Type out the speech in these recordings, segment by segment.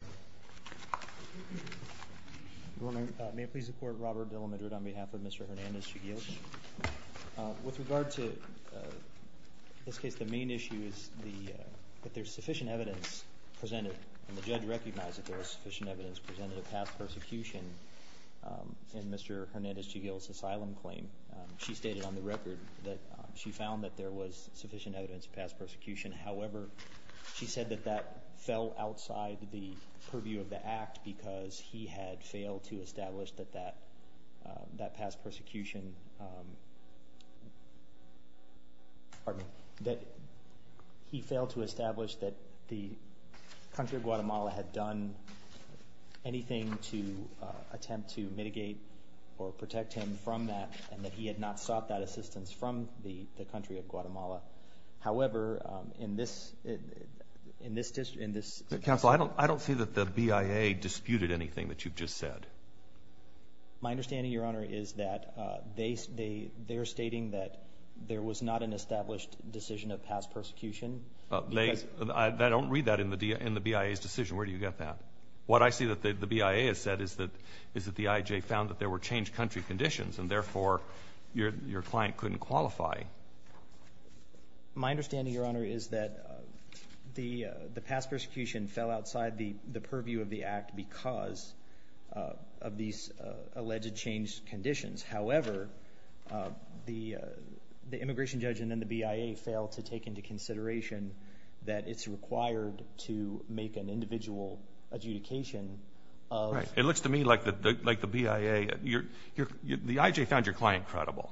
Good morning. May it please the Court, Robert Dillamadrid on behalf of Mr. Hernandez-Chiguil. With regard to this case, the main issue is that there's sufficient evidence presented, and the judge recognized that there was sufficient evidence presented of past persecution in Mr. Hernandez-Chiguil's asylum claim. She stated on the record that she found that there was sufficient evidence of past persecution. However, she said that that fell outside the purview of the Act, because he had failed to establish that the country of Guatemala had done anything to attempt to mitigate or protect him from that, and that he had not sought that assistance from the country of Guatemala. However, in this district, in this— Counsel, I don't see that the BIA disputed anything that you've just said. My understanding, Your Honor, is that they're stating that there was not an established decision of past persecution. I don't read that in the BIA's decision. Where do you get that? What I see that the BIA has said is that the IJ found that there were changed country conditions, and therefore your client couldn't qualify. My understanding, Your Honor, is that the past persecution fell outside the purview of the Act because of these alleged changed conditions. However, the immigration judge and then the BIA fail to take into consideration that it's required to make an individual adjudication of— Right. It looks to me like the BIA—the IJ found your client credible.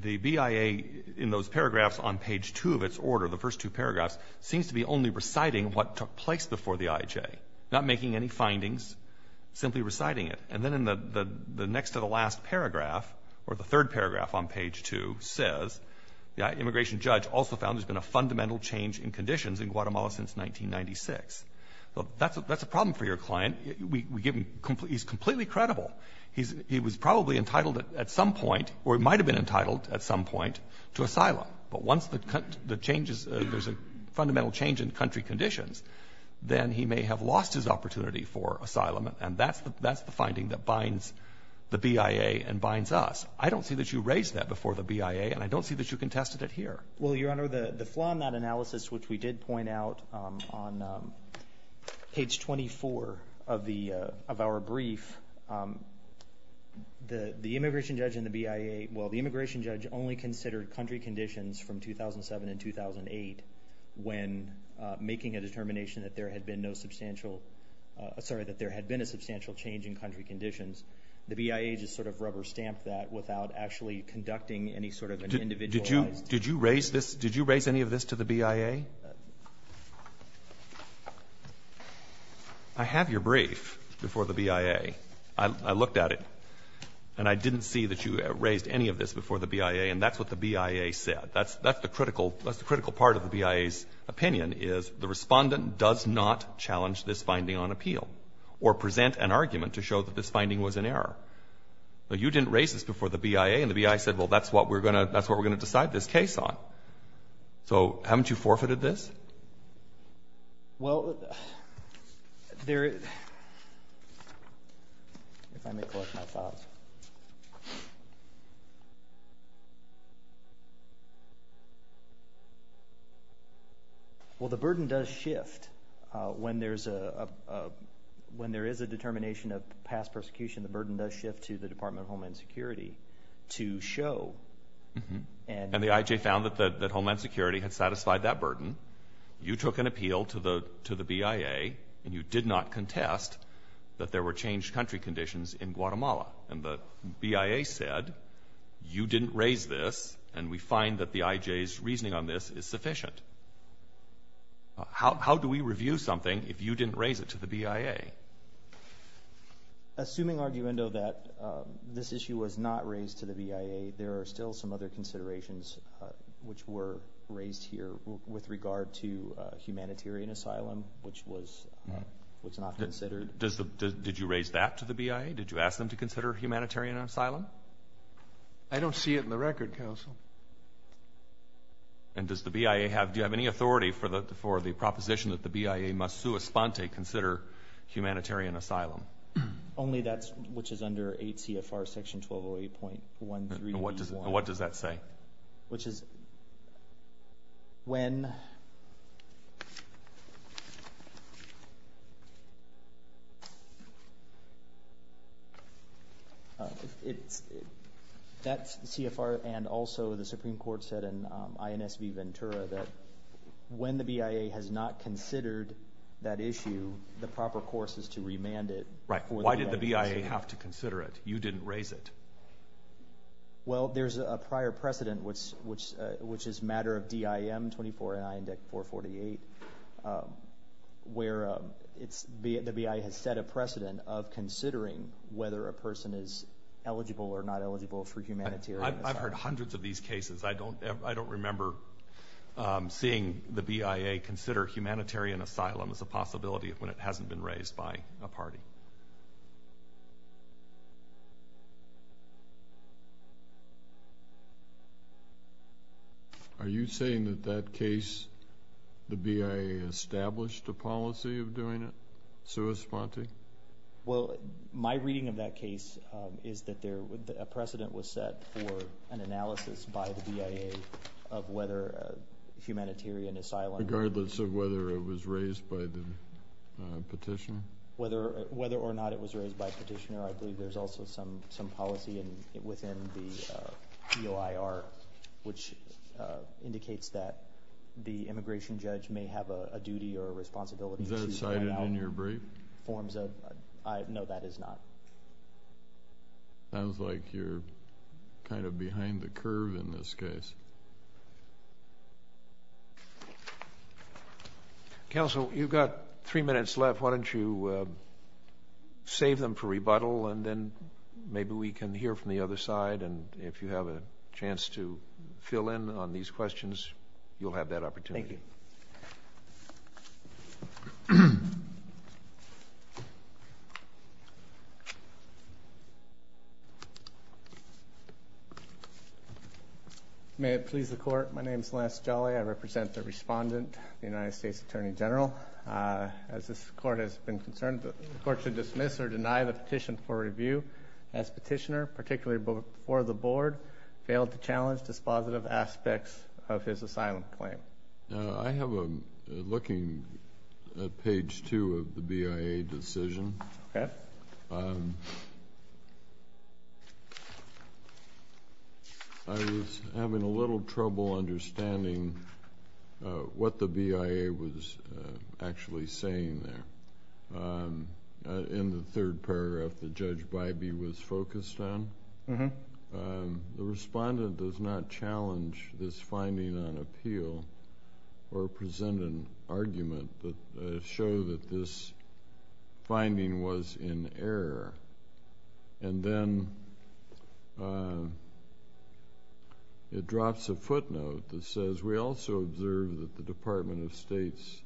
The BIA, in those paragraphs on page 2 of its order, the first two paragraphs, seems to be only reciting what took place before the IJ, not making any findings, simply reciting it. And then in the next to the last paragraph, or the third paragraph on page 2, says, the immigration judge also found there's been a fundamental change in conditions in Guatemala since 1996. That's a problem for your client. We give him — he's completely credible. He was probably entitled at some point, or he might have been entitled at some point, to asylum. But once the changes — there's a fundamental change in country conditions, then he may have lost his opportunity for asylum. And that's the finding that binds the BIA and binds us. I don't see that you raised that before the BIA, and I don't see that you contested it here. Well, Your Honor, the flaw in that analysis, which we did point out on page 24 of our brief, the immigration judge and the BIA—well, the immigration judge only considered country conditions from 2007 and 2008 when making a determination that there had been no substantial— sorry, that there had been a substantial change in country conditions. The BIA just sort of rubber-stamped that without actually conducting any sort of an individualized— Did you raise this? Did you raise any of this to the BIA? I have your brief before the BIA. I looked at it, and I didn't see that you raised any of this before the BIA, and that's what the BIA said. That's the critical part of the BIA's opinion, is the Respondent does not challenge this finding on appeal or present an argument to show that this finding was an error. You didn't raise this before the BIA, and the BIA said, well, that's what we're going to decide this case on. So haven't you forfeited this? Well, there—if I may collect my thoughts. Well, the burden does shift when there is a determination of past persecution. The burden does shift to the Department of Homeland Security to show and— And the IJ found that Homeland Security had satisfied that burden. You took an appeal to the BIA, and you did not contest that there were changed country conditions in Guatemala and the BIA said, you didn't raise this, and we find that the IJ's reasoning on this is sufficient. How do we review something if you didn't raise it to the BIA? Assuming arguendo that this issue was not raised to the BIA, there are still some other considerations which were raised here with regard to humanitarian asylum, which was not considered. And did you raise that to the BIA? Did you ask them to consider humanitarian asylum? I don't see it in the record, counsel. And does the BIA have—do you have any authority for the proposition that the BIA must sua sponte consider humanitarian asylum? Only that's—which is under 8 CFR section 1208.13B1. What does that say? Which is when— That CFR and also the Supreme Court said in INS v. Ventura that when the BIA has not considered that issue, the proper course is to remand it. Right. Why did the BIA have to consider it? You didn't raise it. Well, there's a prior precedent, which is a matter of DIM 249 to 448, where the BIA has set a precedent of considering whether a person is eligible or not eligible for humanitarian asylum. I've heard hundreds of these cases. I don't remember seeing the BIA consider humanitarian asylum as a possibility when it hasn't been raised by a party. Are you saying that that case, the BIA established a policy of doing it sua sponte? Well, my reading of that case is that there—a precedent was set for an analysis by the BIA of whether humanitarian asylum— Regardless of whether it was raised by the petitioner? Whether or not it was raised by petitioner, I believe there's also some policy within the EOIR, which indicates that the immigration judge may have a duty or a responsibility to find out— Is that cited in your brief? Forms of—no, that is not. Sounds like you're kind of behind the curve in this case. Counsel, you've got three minutes left. Why don't you save them for rebuttal, and then maybe we can hear from the other side. And if you have a chance to fill in on these questions, you'll have that opportunity. Thank you. Thank you. May it please the Court, my name is Lance Jolly. I represent the respondent, the United States Attorney General. As this Court has been concerned, the Court should dismiss or deny the petition for review. As petitioner, particularly before the Board, failed to challenge dispositive aspects of his asylum claim. I have a—looking at page 2 of the BIA decision. Okay. I was having a little trouble understanding what the BIA was actually saying there. In the third paragraph that Judge Bybee was focused on, the respondent does not challenge this finding on appeal or present an argument that shows that this finding was in error. And then it drops a footnote that says, we also observe that the Department of State's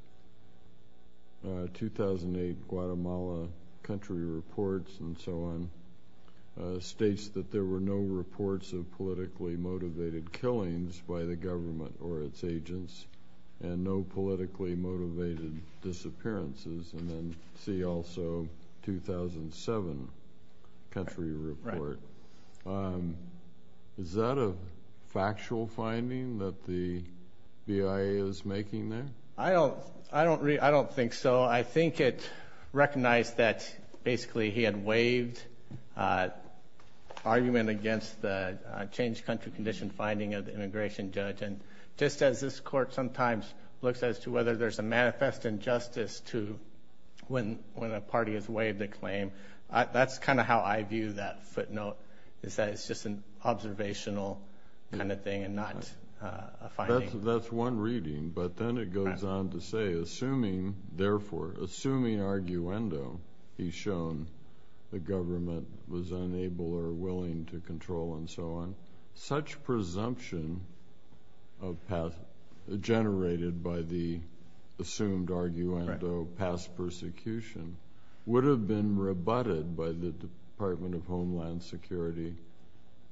2008 Guatemala country reports and so on states that there were no reports of politically motivated killings by the government or its agents and no politically motivated disappearances. And then see also 2007 country report. Is that a factual finding that the BIA is making there? I don't think so. Well, I think it recognized that basically he had waived argument against the changed country condition finding of the immigration judge. And just as this Court sometimes looks as to whether there's a manifest injustice to when a party has waived a claim, that's kind of how I view that footnote, is that it's just an observational kind of thing and not a finding. That's one reading. But then it goes on to say, therefore, assuming arguendo, he's shown the government was unable or willing to control and so on, such presumption generated by the assumed arguendo past persecution would have been rebutted by the Department of Homeland Security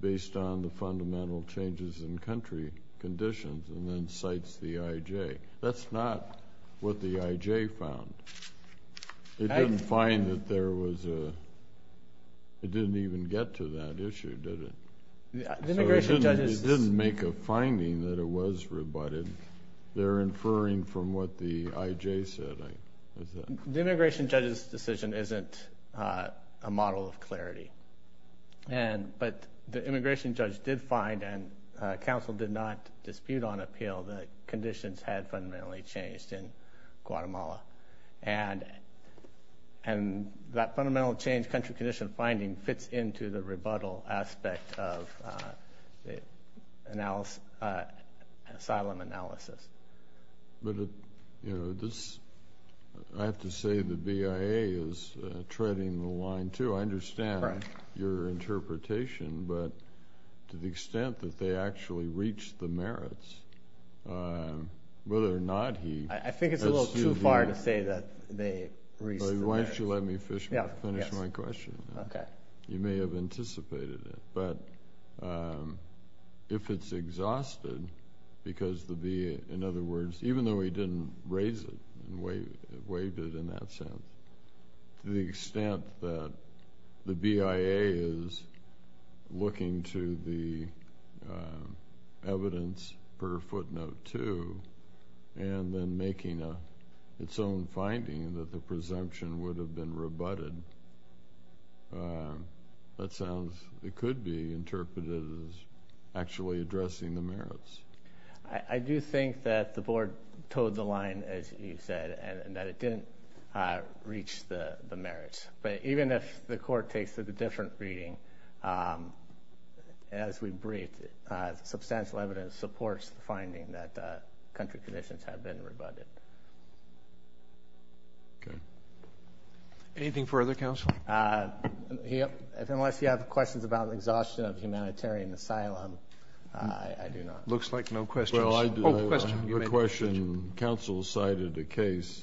based on the fundamental changes in country conditions and then cites the IJ. That's not what the IJ found. It didn't find that there was a – it didn't even get to that issue, did it? The immigration judge's – It didn't make a finding that it was rebutted. They're inferring from what the IJ said. The immigration judge's decision isn't a model of clarity. But the immigration judge did find and counsel did not dispute on appeal that conditions had fundamentally changed in Guatemala. And that fundamental change, country condition finding, fits into the rebuttal aspect of the asylum analysis. But, you know, this – I have to say the BIA is treading the line too. I understand your interpretation, but to the extent that they actually reach the merits, whether or not he – I think it's a little too far to say that they reach the merits. Why don't you let me finish my question? Okay. You may have anticipated it. But if it's exhausted because the BIA, in other words, even though he didn't raise it and waived it in that sense, to the extent that the BIA is looking to the evidence per footnote two and then making its own finding that the presumption would have been rebutted, that sounds – it could be interpreted as actually addressing the merits. I do think that the board toed the line, as you said, and that it didn't reach the merits. But even if the court takes it a different reading, as we briefed, substantial evidence supports the finding that country conditions have been rebutted. Okay. Anything further, Counsel? Unless you have questions about exhaustion of humanitarian asylum, I do not. Looks like no questions. Oh, question. I have a question. Counsel cited a case.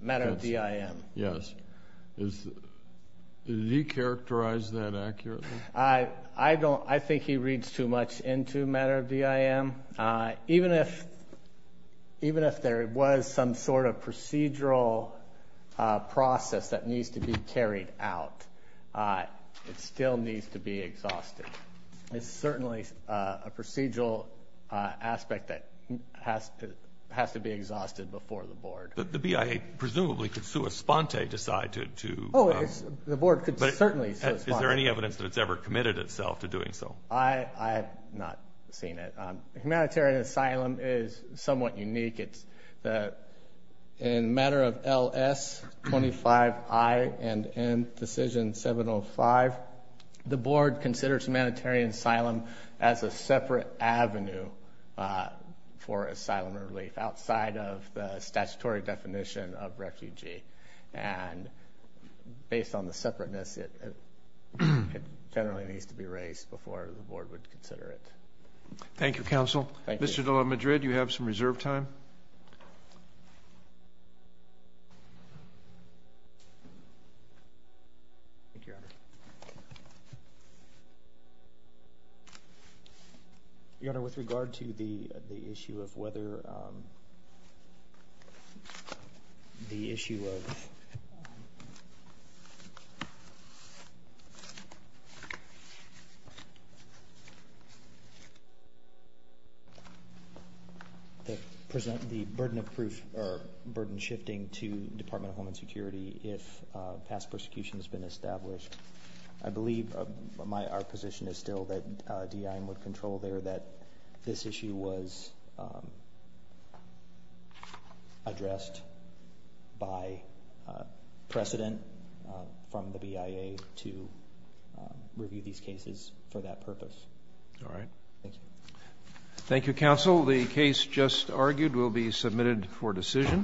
Matter of DIM. Yes. Did he characterize that accurately? I don't. I think he reads too much into matter of DIM. Even if there was some sort of procedural process that needs to be carried out, it still needs to be exhausted. It's certainly a procedural aspect that has to be exhausted before the board. But the BIA presumably could sua sponte decide to. Oh, the board could certainly sua sponte. Is there any evidence that it's ever committed itself to doing so? I have not seen it. Humanitarian asylum is somewhat unique. In matter of LS25I and N decision 705, the board considers humanitarian asylum as a separate avenue for asylum relief, outside of the statutory definition of refugee. And based on the separateness, it generally needs to be raised before the board would consider it. Thank you, Counsel. Thank you. Commissioner de la Madrid, you have some reserve time. Thank you, Your Honor. Your Honor, with regard to the issue of whether the issue of the burden of proof or burden shifting to Department of Homeland Security, if past persecution has been established, I believe our position is still that DIM would control there that this issue was addressed by precedent from the BIA to review these cases for that purpose. All right. Thank you. Thank you, Counsel. The case just argued will be submitted for decision.